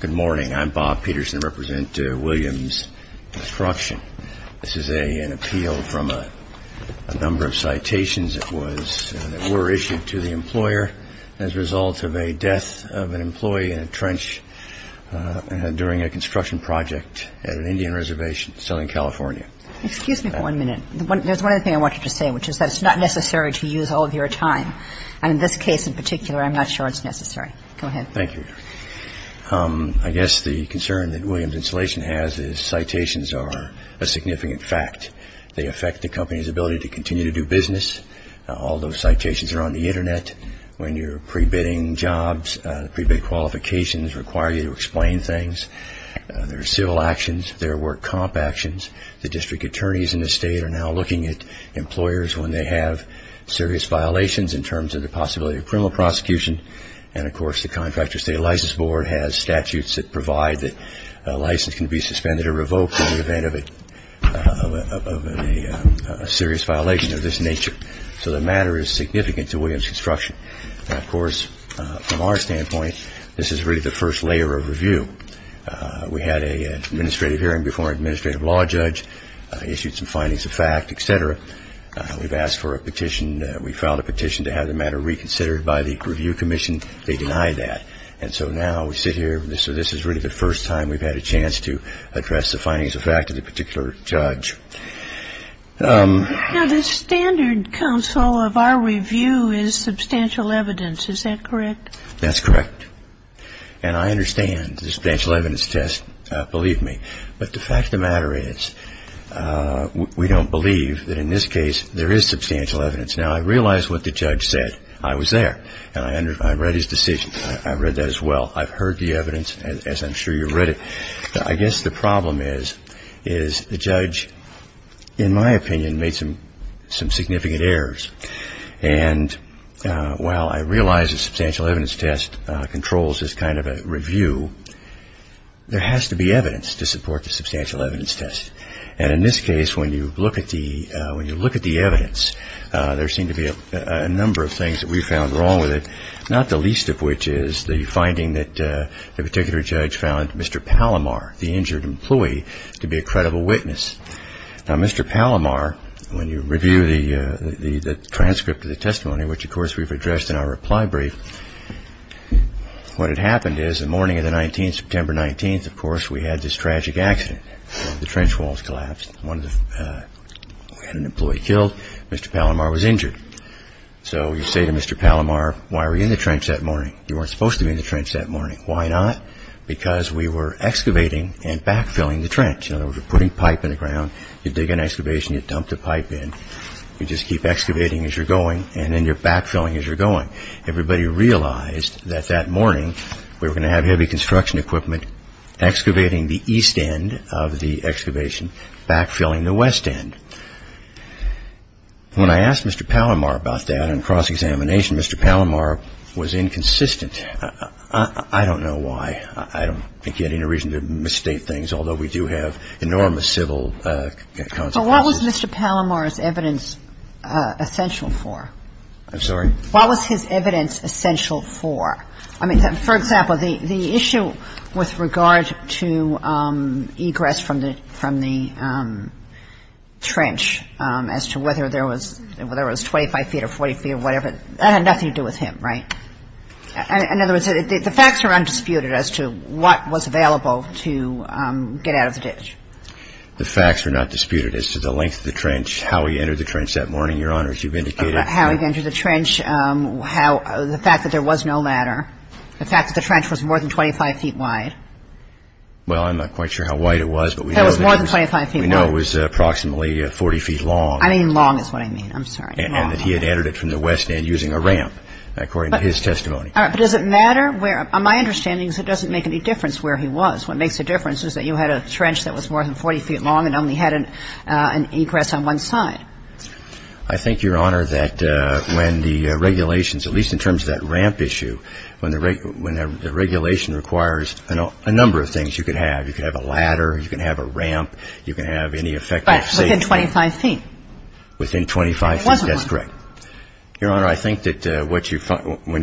Good morning, I'm Bob Peterson representing Williams Construction. This is an appeal from a number of citations that were issued to the employer as a result of a death of an employee in a trench during a construction project at an Indian reservation in Southern California. I guess the concern that Williams Installation has is citations are a significant fact. They affect the company's ability to continue to do business. All those citations are on the Internet. When you're pre-bidding jobs, pre-bid qualifications require you to explain things. There are civil actions, there are work comp actions that describe the work that's being done. Administrative attorneys in the state are now looking at employers when they have serious violations in terms of the possibility of criminal prosecution. And, of course, the Contractor's State License Board has statutes that provide that a license can be suspended or revoked in the event of a serious violation of this nature. So the matter is significant to Williams Construction. And, of course, from our standpoint, this is really the first layer of review. We had an administrative hearing before an administrative law judge, issued some findings of fact, et cetera. We've asked for a petition. We filed a petition to have the matter reconsidered by the review commission. They denied that. And so now we sit here. So this is really the first time we've had a chance to address the findings of fact of the particular judge. Now, the standard counsel of our review is substantial evidence. Is that correct? That's correct. And I understand the substantial evidence test, believe me. But the fact of the matter is we don't believe that in this case there is substantial evidence. Now, I realize what the judge said. I was there. And I read his decision. I read that as well. I've heard the evidence, as I'm sure you've read it. I guess the problem is the judge, in my opinion, made some significant errors. And while I realize the substantial evidence test controls this kind of a review, there has to be evidence to support the substantial evidence test. And in this case, when you look at the evidence, there seem to be a number of things that we found wrong with it, not the least of which is the finding that the particular judge found Mr. Palomar, the injured employee, to be a credible witness. Now, Mr. Palomar, when you review the transcript of the testimony, which, of course, we've addressed in our reply brief, what had happened is the morning of the 19th, September 19th, of course, we had this tragic accident. The trench walls collapsed. We had an employee killed. Mr. Palomar was injured. So you say to Mr. Palomar, why were you in the trench that morning? You weren't supposed to be in the trench that morning. Why not? Because we were excavating and backfilling the trench. In other words, we're putting pipe in the ground. You dig an excavation. You dump the pipe in. You just keep excavating as you're going. And then you're backfilling as you're going. Everybody realized that that morning we were going to have heavy construction equipment excavating the east end of the excavation, backfilling the west end. When I asked Mr. Palomar about that on cross-examination, Mr. Palomar was inconsistent. I don't know why. I don't think he had any reason to misstate things, although we do have enormous civil consequences. So what was Mr. Palomar's evidence essential for? I'm sorry? What was his evidence essential for? I mean, for example, the issue with regard to egress from the trench as to whether there was 25 feet or 40 feet or whatever, that had nothing to do with him, right? In other words, the facts are undisputed as to what was available to get out of the ditch. The facts are not disputed as to the length of the trench, how he entered the trench that morning, Your Honor, as you've indicated. How he entered the trench, the fact that there was no ladder, the fact that the trench was more than 25 feet wide. Well, I'm not quite sure how wide it was, but we know it was approximately 40 feet long. I mean long is what I mean. I'm sorry. And that he had entered it from the west end using a ramp, according to his testimony. All right, but does it matter where – my understanding is it doesn't make any difference where he was. What makes a difference is that you had a trench that was more than 40 feet long and only had an egress on one side. I think, Your Honor, that when the regulations, at least in terms of that ramp issue, when the regulation requires a number of things you can have. You can have a ladder, you can have a ramp, you can have any effective safety. But within 25 feet. There wasn't one. Your Honor, I think that what you – when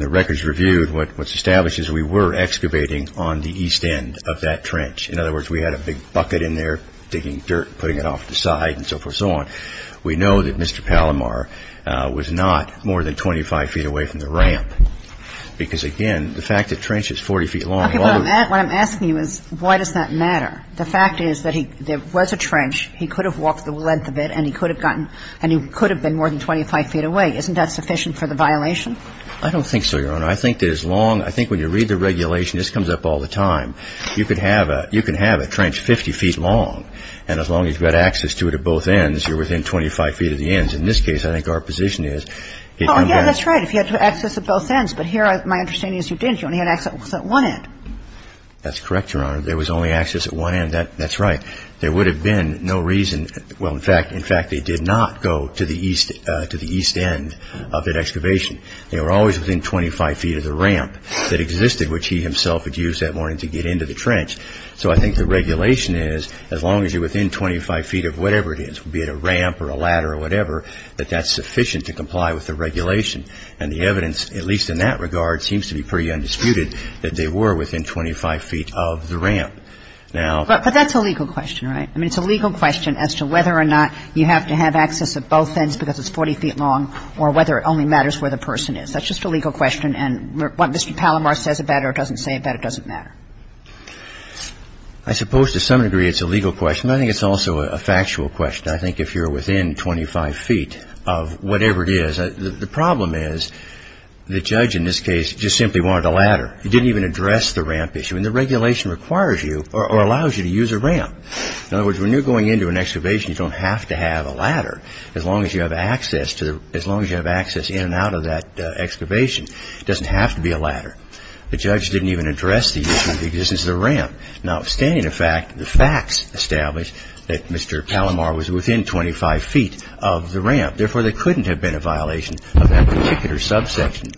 the record is reviewed, what's established is we were excavating on the east end of that trench. In other words, we had a big bucket in there digging dirt, putting it off to the side and so forth and so on. We know that Mr. Palomar was not more than 25 feet away from the ramp because, again, the fact the trench is 40 feet long. Okay. What I'm asking you is why does that matter? The fact is that he – there was a trench. He could have walked the length of it and he could have gotten – and he could have been more than 25 feet away. Isn't that sufficient for the violation? I don't think so, Your Honor. I think that as long – I think when you read the regulation, this comes up all the time. You could have a – you can have a trench 50 feet long, and as long as you had access to it at both ends, you're within 25 feet of the ends. In this case, I think our position is if you get – Oh, yeah, that's right. If you had access at both ends. But here my understanding is you didn't. You only had access at one end. That's correct, Your Honor. There was only access at one end. That's right. There would have been no reason – well, in fact, they did not go to the east end of that excavation. They were always within 25 feet of the ramp that existed, which he himself had used that morning to get into the trench. So I think the regulation is as long as you're within 25 feet of whatever it is, be it a ramp or a ladder or whatever, that that's sufficient to comply with the regulation. And the evidence, at least in that regard, seems to be pretty undisputed that they were within 25 feet of the ramp. Now – But that's a legal question, right? I mean, it's a legal question as to whether or not you have to have access at both ends because it's 40 feet long or whether it only matters where the person is. That's just a legal question. And what Mr. Palomar says about it or doesn't say about it doesn't matter. I suppose to some degree it's a legal question. I think it's also a factual question. I think if you're within 25 feet of whatever it is, the problem is the judge in this case just simply wanted a ladder. He didn't even address the ramp issue. And the regulation requires you or allows you to use a ramp. In other words, when you're going into an excavation, you don't have to have a ladder. As long as you have access in and out of that excavation, it doesn't have to be a ladder. The judge didn't even address the issue of the existence of the ramp. Now, standing to fact, the facts establish that Mr. Palomar was within 25 feet of the ramp. Therefore, there couldn't have been a violation of that particular subsection.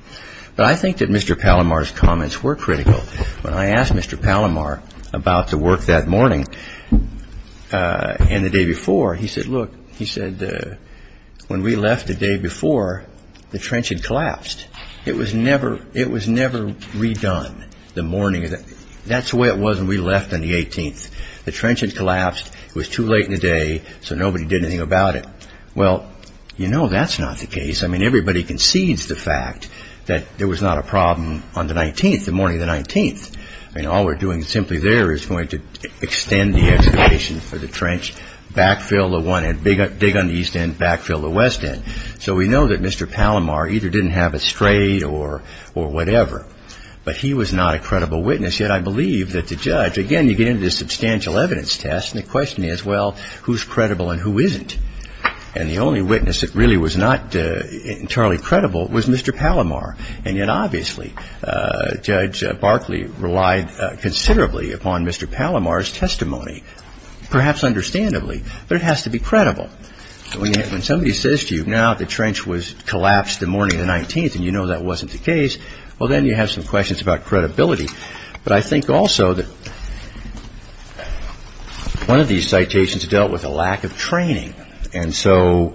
But I think that Mr. Palomar's comments were critical. When I asked Mr. Palomar about the work that morning and the day before, he said, look, he said, when we left the day before, the trench had collapsed. It was never redone. That's the way it was when we left on the 18th. The trench had collapsed. It was too late in the day, so nobody did anything about it. Well, you know that's not the case. I mean, everybody concedes the fact that there was not a problem on the 19th, the morning of the 19th. All we're doing simply there is going to extend the excavation for the trench, backfill the one end, dig on the east end, backfill the west end. So we know that Mr. Palomar either didn't have it straight or whatever. But he was not a credible witness. Yet I believe that the judge, again, you get into this substantial evidence test, and the question is, well, who's credible and who isn't? And the only witness that really was not entirely credible was Mr. Palomar. And yet, obviously, Judge Barkley relied considerably upon Mr. Palomar's testimony, perhaps understandably, but it has to be credible. When somebody says to you, now the trench was collapsed the morning of the 19th and you know that wasn't the case, well, then you have some questions about credibility. But I think also that one of these citations dealt with a lack of training. And so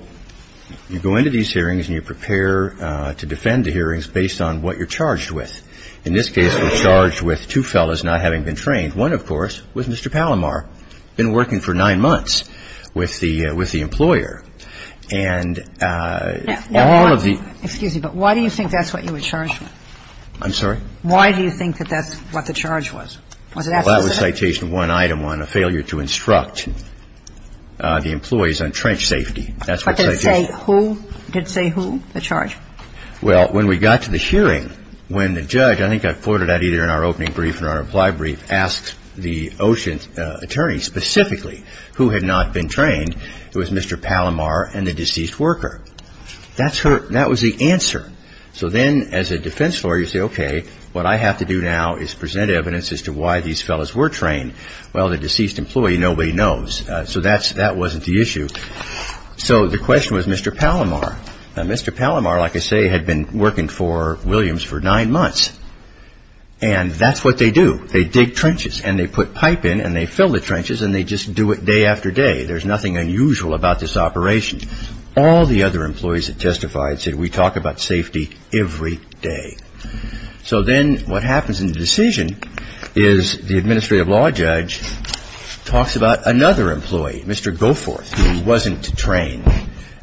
you go into these hearings and you prepare to defend the hearings based on what you're charged with. In this case, we're charged with two fellows not having been trained. One, of course, was Mr. Palomar, been working for nine months with the employer. And all of the ‑‑ Excuse me, but why do you think that's what you were charged with? I'm sorry? Why do you think that that's what the charge was? Well, that was citation one, item one, a failure to instruct the employees on trench safety. But did it say who? Did it say who, the charge? Well, when we got to the hearing, when the judge, I think I floated that either in our opening brief or our reply brief, asked the Ocean attorney specifically who had not been trained, it was Mr. Palomar and the deceased worker. That was the answer. So then as a defense lawyer, you say, okay, what I have to do now is present evidence as to why these fellows were trained. Well, the deceased employee, nobody knows. So that wasn't the issue. So the question was Mr. Palomar. Now, Mr. Palomar, like I say, had been working for Williams for nine months. And that's what they do. They dig trenches and they put pipe in and they fill the trenches and they just do it day after day. There's nothing unusual about this operation. All the other employees that testified said we talk about safety every day. So then what happens in the decision is the administrative law judge talks about another employee, Mr. Goforth, who wasn't trained,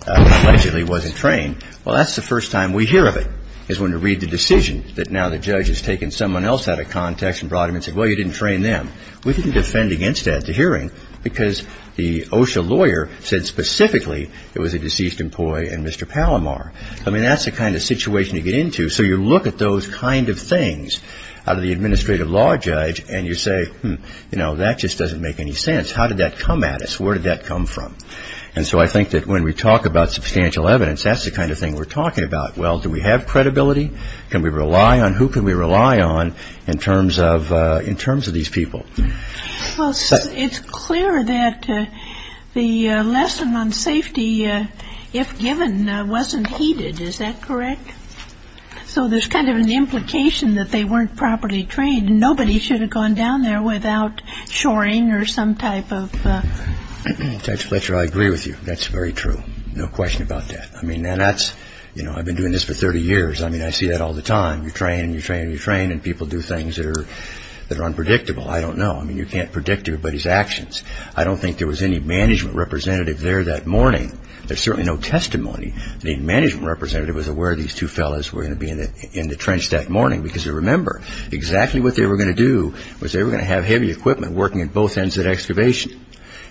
allegedly wasn't trained. Well, that's the first time we hear of it is when we read the decision that now the judge has taken someone else out of context and brought him and said, well, you didn't train them. We can defend against that at the hearing because the OSHA lawyer said specifically it was a deceased employee and Mr. Palomar. I mean, that's the kind of situation you get into. So you look at those kind of things out of the administrative law judge and you say, you know, that just doesn't make any sense. How did that come at us? Where did that come from? And so I think that when we talk about substantial evidence, that's the kind of thing we're talking about. Well, do we have credibility? Can we rely on? Who can we rely on in terms of these people? Well, it's clear that the lesson on safety, if given, wasn't heeded. Is that correct? So there's kind of an implication that they weren't properly trained. Nobody should have gone down there without shoring or some type of. Judge Fletcher, I agree with you. That's very true. No question about that. I mean, and that's, you know, I've been doing this for 30 years. I mean, I see that all the time. You train and you train and you train and people do things that are unpredictable. I don't know. I mean, you can't predict everybody's actions. I don't think there was any management representative there that morning. There's certainly no testimony. The management representative was aware these two fellows were going to be in the trench that morning because they remember exactly what they were going to do was they were going to have heavy equipment working at both ends of that excavation.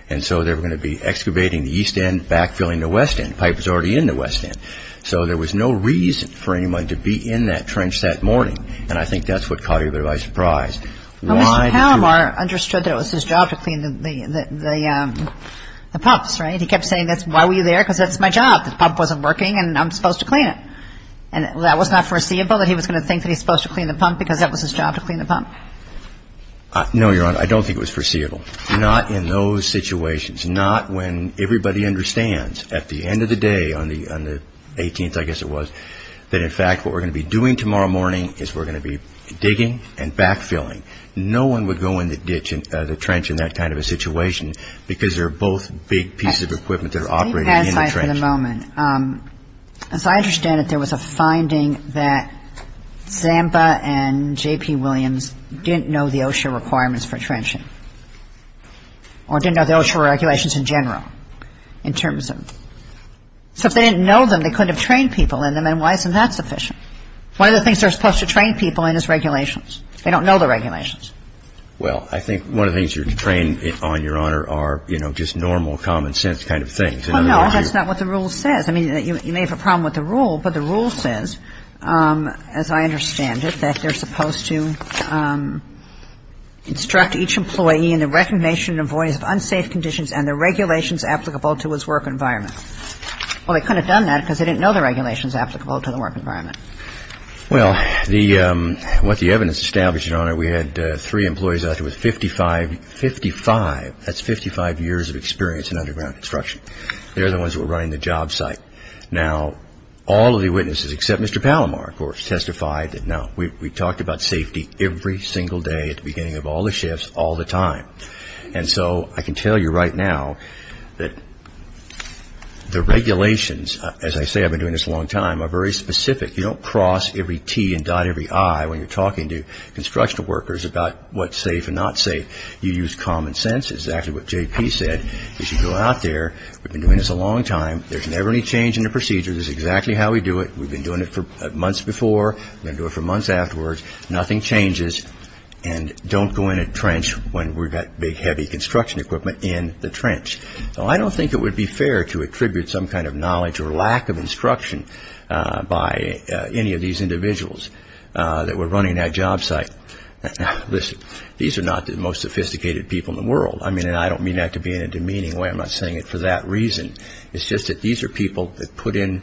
And so they were going to be excavating the east end, backfilling the west end. The pipe was already in the west end. So there was no reason for anyone to be in that trench that morning. And I think that's what caught everybody by surprise. Why did you? Well, Mr. Palomar understood that it was his job to clean the pumps, right? He kept saying, why were you there? Because that's my job. The pump wasn't working and I'm supposed to clean it. And that was not foreseeable that he was going to think that he's supposed to clean the pump because that was his job to clean the pump? No, Your Honor. I don't think it was foreseeable. Not in those situations. Not when everybody understands at the end of the day on the 18th, I guess it was, that in fact what we're going to be doing tomorrow morning is we're going to be digging and backfilling. No one would go in the trench in that kind of a situation because they're both big pieces of equipment that are operating in the trench. Well, aside for the moment, as I understand it, there was a finding that Zamba and J.P. Williams didn't know the OSHA requirements for trenching or didn't know the OSHA regulations in general in terms of them. So if they didn't know them, they couldn't have trained people in them, and why isn't that sufficient? One of the things they're supposed to train people in is regulations. They don't know the regulations. Well, I think one of the things you're trained on, Your Honor, are, you know, just normal common sense kind of things. Well, no, that's not what the rule says. I mean, you may have a problem with the rule, but the rule says, as I understand it, that they're supposed to instruct each employee in the recognition and avoidance of unsafe conditions and the regulations applicable to his work environment. Well, they couldn't have done that because they didn't know the regulations applicable to the work environment. Well, what the evidence established, Your Honor, we had three employees out there with 55 years of experience in underground construction. They're the ones who were running the job site. Now, all of the witnesses, except Mr. Palomar, of course, testified. Now, we talked about safety every single day at the beginning of all the shifts, all the time. And so I can tell you right now that the regulations, as I say, I've been doing this a long time, are very specific. You don't cross every T and dot every I when you're talking to construction workers. It's about what's safe and not safe. You use common sense. It's exactly what J.P. said. You should go out there. We've been doing this a long time. There's never any change in the procedure. This is exactly how we do it. We've been doing it for months before. We're going to do it for months afterwards. Nothing changes. And don't go in a trench when we've got big, heavy construction equipment in the trench. Now, I don't think it would be fair to attribute some kind of knowledge or lack of instruction by any of these individuals that were running that job site. Listen, these are not the most sophisticated people in the world. I mean, and I don't mean that to be in a demeaning way. I'm not saying it for that reason. It's just that these are people that put in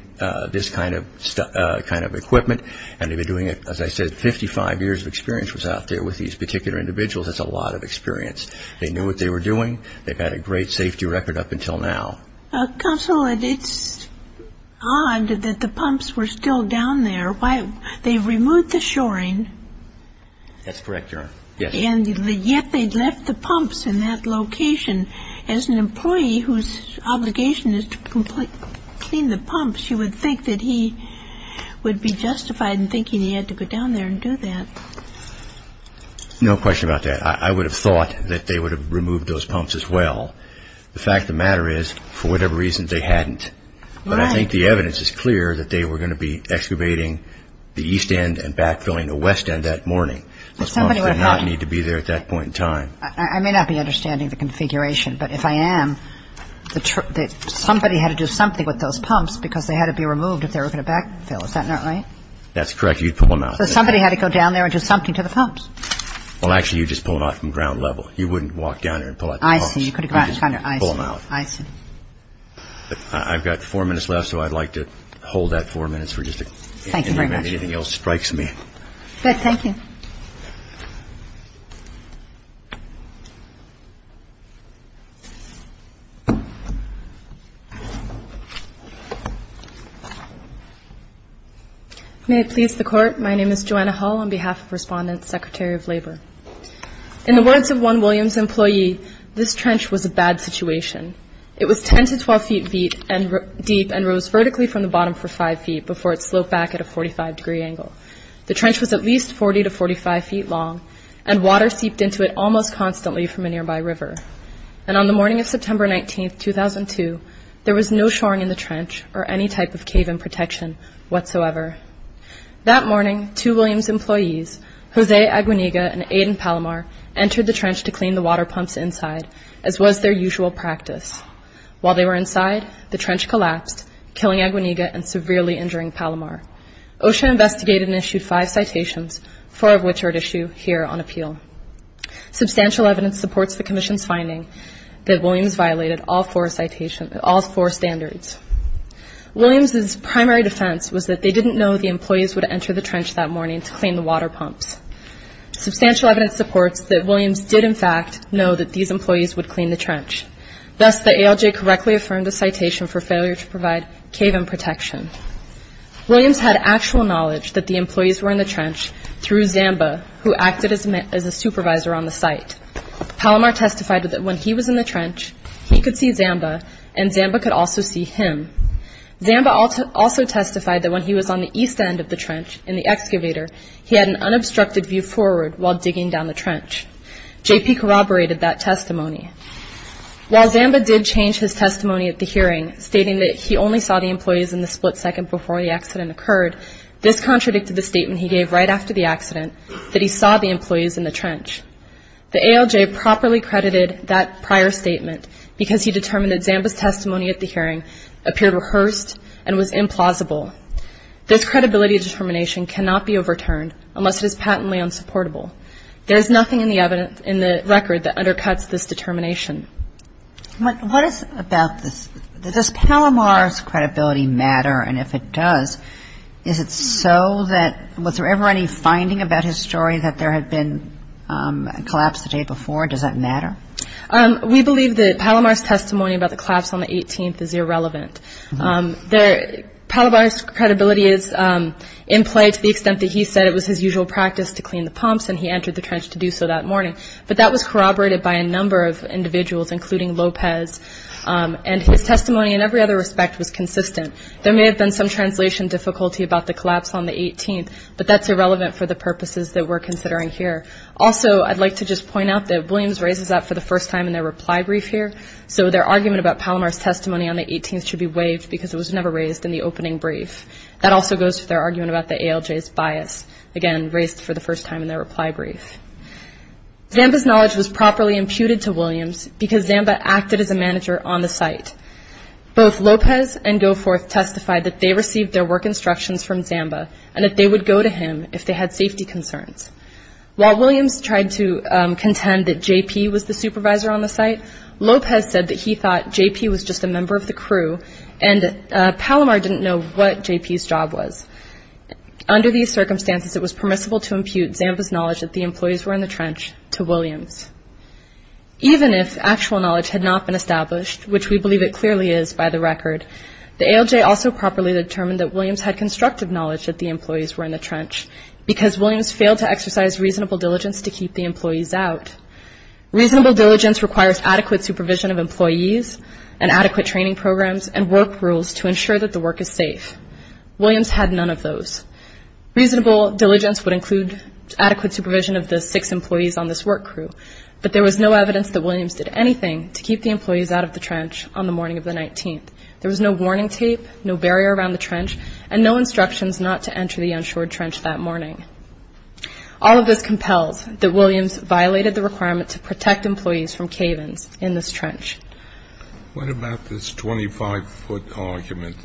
this kind of equipment, and they've been doing it, as I said, 55 years of experience was out there with these particular individuals. That's a lot of experience. They knew what they were doing. They've had a great safety record up until now. Counsel, it's odd that the pumps were still down there. They removed the shoring. That's correct, Your Honor. Yes. And yet they left the pumps in that location. As an employee whose obligation is to clean the pumps, you would think that he would be justified in thinking he had to go down there and do that. No question about that. I would have thought that they would have removed those pumps as well. The fact of the matter is, for whatever reason, they hadn't. But I think the evidence is clear that they were going to be excavating the east end and backfilling the west end that morning. Those pumps did not need to be there at that point in time. I may not be understanding the configuration, but if I am, somebody had to do something with those pumps because they had to be removed if they were going to backfill. Is that not right? That's correct. You'd pull them out. So somebody had to go down there and do something to the pumps. Well, actually, you'd just pull them out from ground level. You wouldn't walk down there and pull out the pumps. I see. You could have gone down there. I see. You'd just pull them out. I see. I've got four minutes left, so I'd like to hold that four minutes. Thank you very much. If anything else strikes me. Good. Thank you. My name is Joanna Hull on behalf of Respondent Secretary of Labor. In the words of one Williams employee, this trench was a bad situation. It was 10 to 12 feet deep and rose vertically from the bottom for five feet before it sloped back at a 45-degree angle. The trench was at least 40 to 45 feet long, and water seeped into it almost constantly from a nearby river. And on the morning of September 19, 2002, there was no shoring in the trench or any type of cave-in protection whatsoever. That morning, two Williams employees, Jose Aguinega and Aiden Palomar, entered the trench to clean the water pumps inside, as was their usual practice. While they were inside, the trench collapsed, killing Aguinega and severely injuring Palomar. OSHA investigated and issued five citations, four of which are at issue here on appeal. Substantial evidence supports the commission's finding that Williams violated all four standards. Williams' primary defense was that they didn't know the employees would enter the trench that morning to clean the water pumps. Substantial evidence supports that Williams did, in fact, know that these employees would clean the trench. Thus, the ALJ correctly affirmed a citation for failure to provide cave-in protection. Williams had actual knowledge that the employees were in the trench through Zamba, who acted as a supervisor on the site. Palomar testified that when he was in the trench, he could see Zamba, and Zamba could also see him. Zamba also testified that when he was on the east end of the trench, in the excavator, he had an unobstructed view forward while digging down the trench. JP corroborated that testimony. While Zamba did change his testimony at the hearing, stating that he only saw the employees in the split second before the accident occurred, this contradicted the statement he gave right after the accident, that he saw the employees in the trench. The ALJ properly credited that prior statement because he determined that Zamba's testimony at the hearing appeared rehearsed and was implausible. This credibility determination cannot be overturned unless it is patently unsupportable. There is nothing in the record that undercuts this determination. What is about this, does Palomar's credibility matter, and if it does, is it so that, was there ever any finding about his story that there had been a collapse the day before? Does that matter? We believe that Palomar's testimony about the collapse on the 18th is irrelevant. Palomar's credibility is in play to the extent that he said it was his usual practice to clean the pumps, and he entered the trench to do so that morning. But that was corroborated by a number of individuals, including Lopez, and his testimony in every other respect was consistent. There may have been some translation difficulty about the collapse on the 18th, but that's irrelevant for the purposes that we're considering here. Also, I'd like to just point out that Williams raises that for the first time in their reply brief here, so their argument about Palomar's testimony on the 18th should be waived because it was never raised in the opening brief. That also goes to their argument about the ALJ's bias, again, raised for the first time in their reply brief. Zamba's knowledge was properly imputed to Williams because Zamba acted as a manager on the site. Both Lopez and Goforth testified that they received their work instructions from Zamba and that they would go to him if they had safety concerns. While Williams tried to contend that J.P. was the supervisor on the site, Lopez said that he thought J.P. was just a member of the crew, and Palomar didn't know what J.P.'s job was. Under these circumstances, it was permissible to impute Zamba's knowledge that the employees were in the trench to Williams. Even if actual knowledge had not been established, which we believe it clearly is by the record, the ALJ also properly determined that Williams had constructive knowledge that the employees were in the trench because Williams failed to exercise reasonable diligence to keep the employees out. Reasonable diligence requires adequate supervision of employees and adequate training programs and work rules to ensure that the work is safe. Williams had none of those. Reasonable diligence would include adequate supervision of the six employees on this work crew, but there was no evidence that Williams did anything to keep the employees out of the trench on the morning of the 19th. There was no warning tape, no barrier around the trench, and no instructions not to enter the unsured trench that morning. All of this compels that Williams violated the requirement to protect employees from cave-ins in this trench. What about this 25-foot argument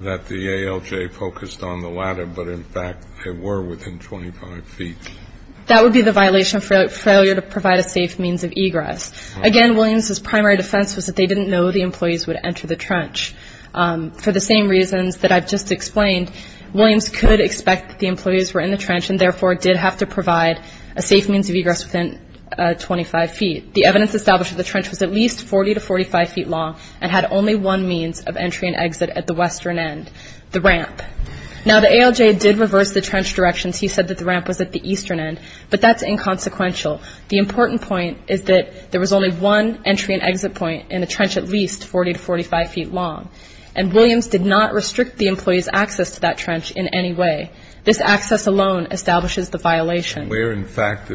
that the ALJ focused on the latter, but in fact they were within 25 feet? That would be the violation of failure to provide a safe means of egress. Again, Williams's primary defense was that they didn't know the employees would enter the trench. For the same reasons that I've just explained, Williams could expect that the employees were in the trench and therefore did have to provide a safe means of egress within 25 feet. The evidence established that the trench was at least 40 to 45 feet long and had only one means of entry and exit at the western end, the ramp. Now, the ALJ did reverse the trench directions. He said that the ramp was at the eastern end, but that's inconsequential. The important point is that there was only one entry and exit point in the trench at least 40 to 45 feet long, and Williams did not restrict the employees' access to that trench in any way. This access alone establishes the violation. And where, in fact,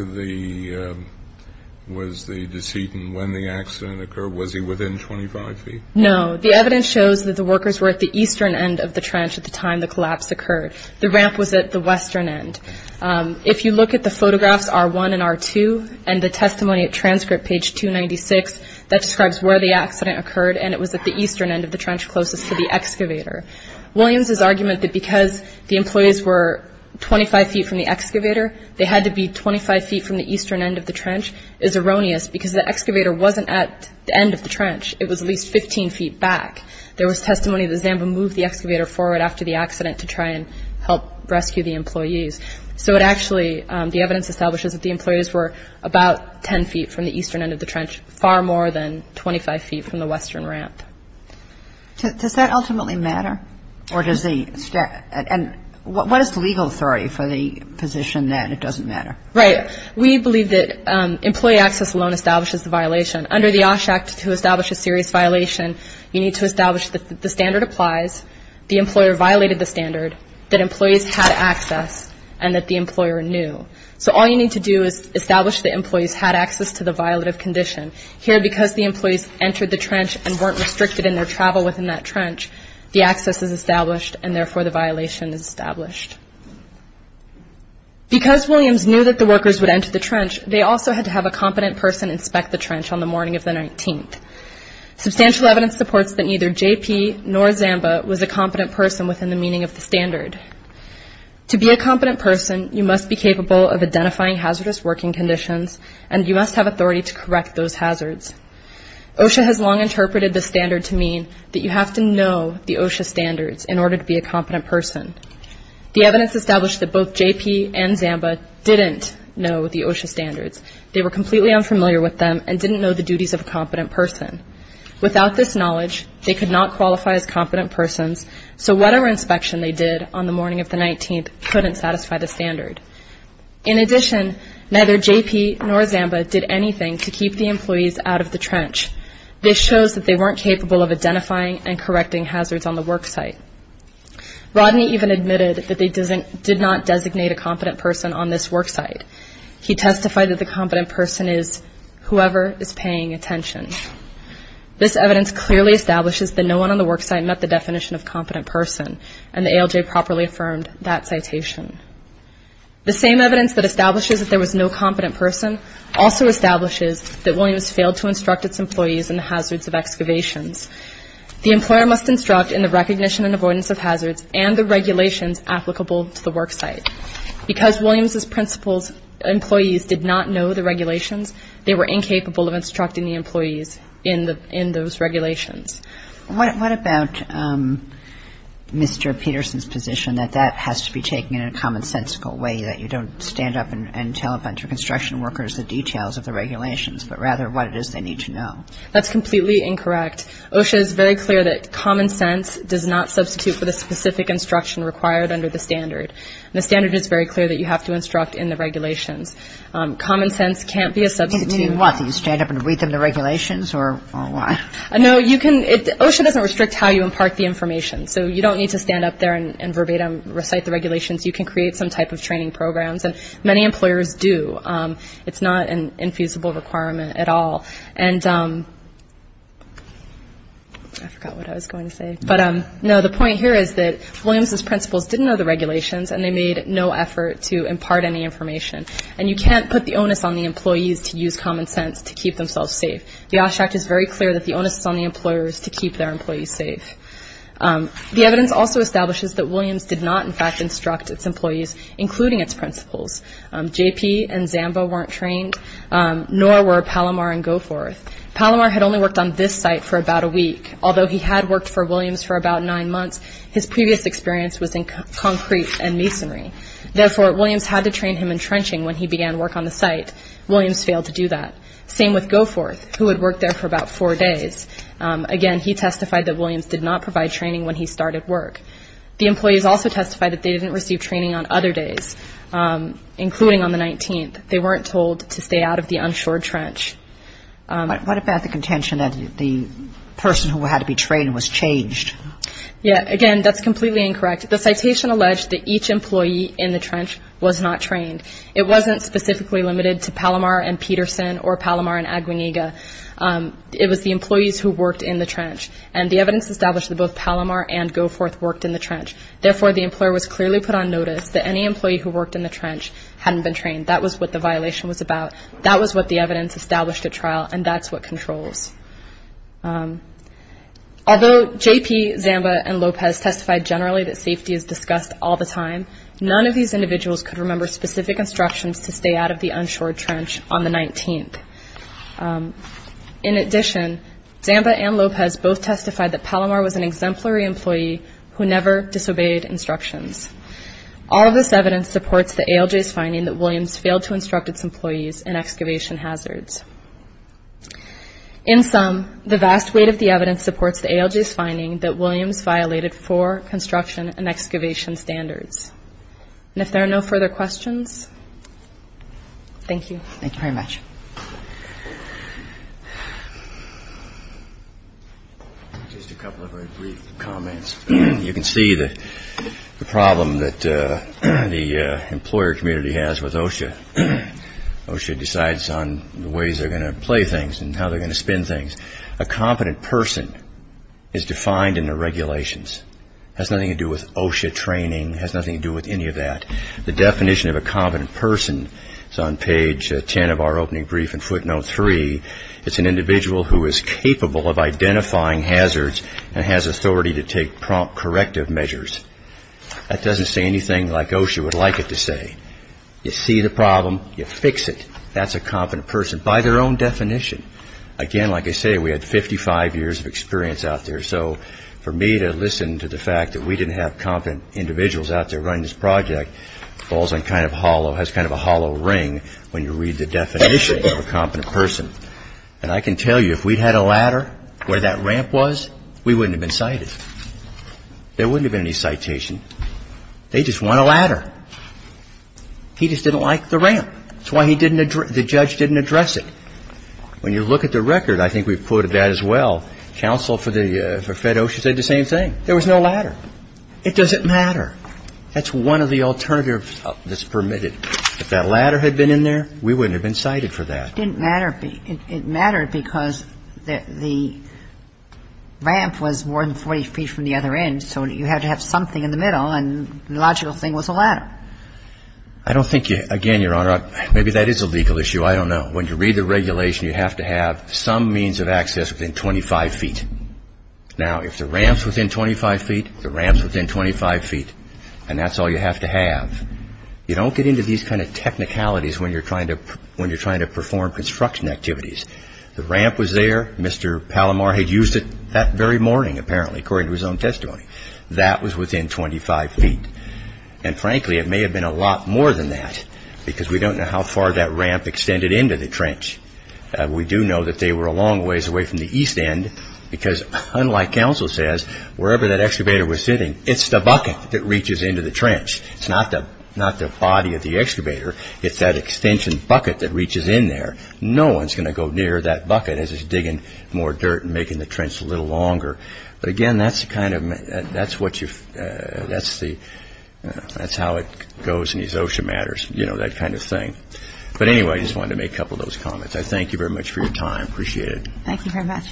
was the decedent when the accident occurred? Was he within 25 feet? No. The evidence shows that the workers were at the eastern end of the trench at the time the collapse occurred. The ramp was at the western end. If you look at the photographs, R1 and R2, and the testimony at transcript, page 296, that describes where the accident occurred, and it was at the eastern end of the trench closest to the excavator. Williams's argument that because the employees were 25 feet from the excavator, they had to be 25 feet from the eastern end of the trench is erroneous because the excavator wasn't at the end of the trench. It was at least 15 feet back. There was testimony that Zamba moved the excavator forward after the accident to try and help rescue the employees. So it actually, the evidence establishes that the employees were about 10 feet from the eastern end of the trench, far more than 25 feet from the western ramp. Does that ultimately matter? And what is the legal authority for the position that it doesn't matter? Right. We believe that employee access alone establishes the violation. Under the OSH Act, to establish a serious violation, you need to establish that the standard applies, the employer violated the standard, that employees had access, and that the employer knew. So all you need to do is establish that employees had access to the violative condition. Here, because the employees entered the trench and weren't restricted in their travel within that trench, the access is established and therefore the violation is established. Because Williams knew that the workers would enter the trench, they also had to have a competent person inspect the trench on the morning of the 19th. Substantial evidence supports that neither JP nor Zamba was a competent person within the meaning of the standard. To be a competent person, you must be capable of identifying hazardous working conditions and you must have authority to correct those hazards. OSHA has long interpreted the standard to mean that you have to know the OSHA standards in order to be a competent person. The evidence established that both JP and Zamba didn't know the OSHA standards. They were completely unfamiliar with them and didn't know the duties of a competent person. Without this knowledge, they could not qualify as competent persons, so whatever inspection they did on the morning of the 19th couldn't satisfy the standard. In addition, neither JP nor Zamba did anything to keep the employees out of the trench. This shows that they weren't capable of identifying and correcting hazards on the worksite. Rodney even admitted that they did not designate a competent person on this worksite. He testified that the competent person is whoever is paying attention. This evidence clearly establishes that no one on the worksite met the definition of competent person and the ALJ properly affirmed that citation. The same evidence that establishes that there was no competent person also establishes that Williams failed to instruct its employees in the hazards of excavations. The employer must instruct in the recognition and avoidance of hazards and the regulations applicable to the worksite. Because Williams's principal's employees did not know the regulations, they were incapable of instructing the employees in those regulations. What about Mr. Peterson's position that that has to be taken in a commonsensical way, that you don't stand up and tell a bunch of construction workers the details of the regulations, but rather what it is they need to know? That's completely incorrect. OSHA is very clear that common sense does not substitute for the specific instruction required under the standard. The standard is very clear that you have to instruct in the regulations. Common sense can't be a substitute. Meaning what? Do you stand up and read them the regulations, or why? No, OSHA doesn't restrict how you impart the information. So you don't need to stand up there and verbatim recite the regulations. You can create some type of training programs, and many employers do. It's not an infeasible requirement at all. And I forgot what I was going to say. No, the point here is that Williams's principals didn't know the regulations, and they made no effort to impart any information. And you can't put the onus on the employees to use common sense to keep themselves safe. The OSHA Act is very clear that the onus is on the employers to keep their employees safe. The evidence also establishes that Williams did not, in fact, instruct its employees, including its principals. JP and Zamba weren't trained, nor were Palomar and Goforth. Palomar had only worked on this site for about a week. Although he had worked for Williams for about nine months, his previous experience was in concrete and masonry. Therefore, Williams had to train him in trenching when he began work on the site. Williams failed to do that. Same with Goforth, who had worked there for about four days. Again, he testified that Williams did not provide training when he started work. The employees also testified that they didn't receive training on other days, including on the 19th. They weren't told to stay out of the unshored trench. What about the contention that the person who had to be trained was changed? Yeah, again, that's completely incorrect. The citation alleged that each employee in the trench was not trained. It wasn't specifically limited to Palomar and Peterson or Palomar and Aguinega. It was the employees who worked in the trench, and the evidence established that both Palomar and Goforth worked in the trench. Therefore, the employer was clearly put on notice that any employee who worked in the trench hadn't been trained. That was what the violation was about. That was what the evidence established at trial, and that's what controls. Although JP, Zamba, and Lopez testified generally that safety is discussed all the time, none of these individuals could remember specific instructions to stay out of the unshored trench on the 19th. In addition, Zamba and Lopez both testified that Palomar was an exemplary employee who never disobeyed instructions. All of this evidence supports the ALJ's finding that Williams failed to instruct its employees in excavation hazards. In sum, the vast weight of the evidence supports the ALJ's finding that Williams violated four construction and excavation standards. And if there are no further questions, thank you. Thank you very much. Just a couple of very brief comments. You can see the problem that the employer community has with OSHA. OSHA decides on the ways they're going to play things and how they're going to spin things. A competent person is defined in the regulations. It has nothing to do with OSHA training. It has nothing to do with any of that. The definition of a competent person is on page 10 of our opening brief in footnote 3. It's an individual who is capable of identifying hazards and has authority to take prompt corrective measures. That doesn't say anything like OSHA would like it to say. You see the problem. You fix it. That's a competent person by their own definition. Again, like I say, we had 55 years of experience out there. So for me to listen to the fact that we didn't have competent individuals out there running this project falls on kind of hollow, has kind of a hollow ring when you read the definition of a competent person. And I can tell you if we'd had a ladder where that ramp was, we wouldn't have been cited. There wouldn't have been any citation. They just want a ladder. He just didn't like the ramp. That's why he didn't address the judge didn't address it. When you look at the record, I think we've quoted that as well. Counsel for the Fed OSHA said the same thing. There was no ladder. It doesn't matter. That's one of the alternatives that's permitted. If that ladder had been in there, we wouldn't have been cited for that. It didn't matter. It mattered because the ramp was more than 40 feet from the other end, so you had to have something in the middle, and the logical thing was a ladder. I don't think, again, Your Honor, maybe that is a legal issue. I don't know. When you read the regulation, you have to have some means of access within 25 feet. Now, if the ramp's within 25 feet, the ramp's within 25 feet, and that's all you have to have, you don't get into these kind of technicalities when you're trying to perform construction activities. The ramp was there. Mr. Palomar had used it that very morning, apparently, according to his own testimony. That was within 25 feet, and frankly, it may have been a lot more than that because we don't know how far that ramp extended into the trench. We do know that they were a long ways away from the east end because, unlike counsel says, wherever that excavator was sitting, it's the bucket that reaches into the trench. It's not the body of the excavator. It's that extension bucket that reaches in there. No one's going to go near that bucket as he's digging more dirt and making the trench a little longer. But again, that's how it goes in these OSHA matters, that kind of thing. But anyway, I just wanted to make a couple of those comments. I thank you very much for your time. I appreciate it. Thank you very much.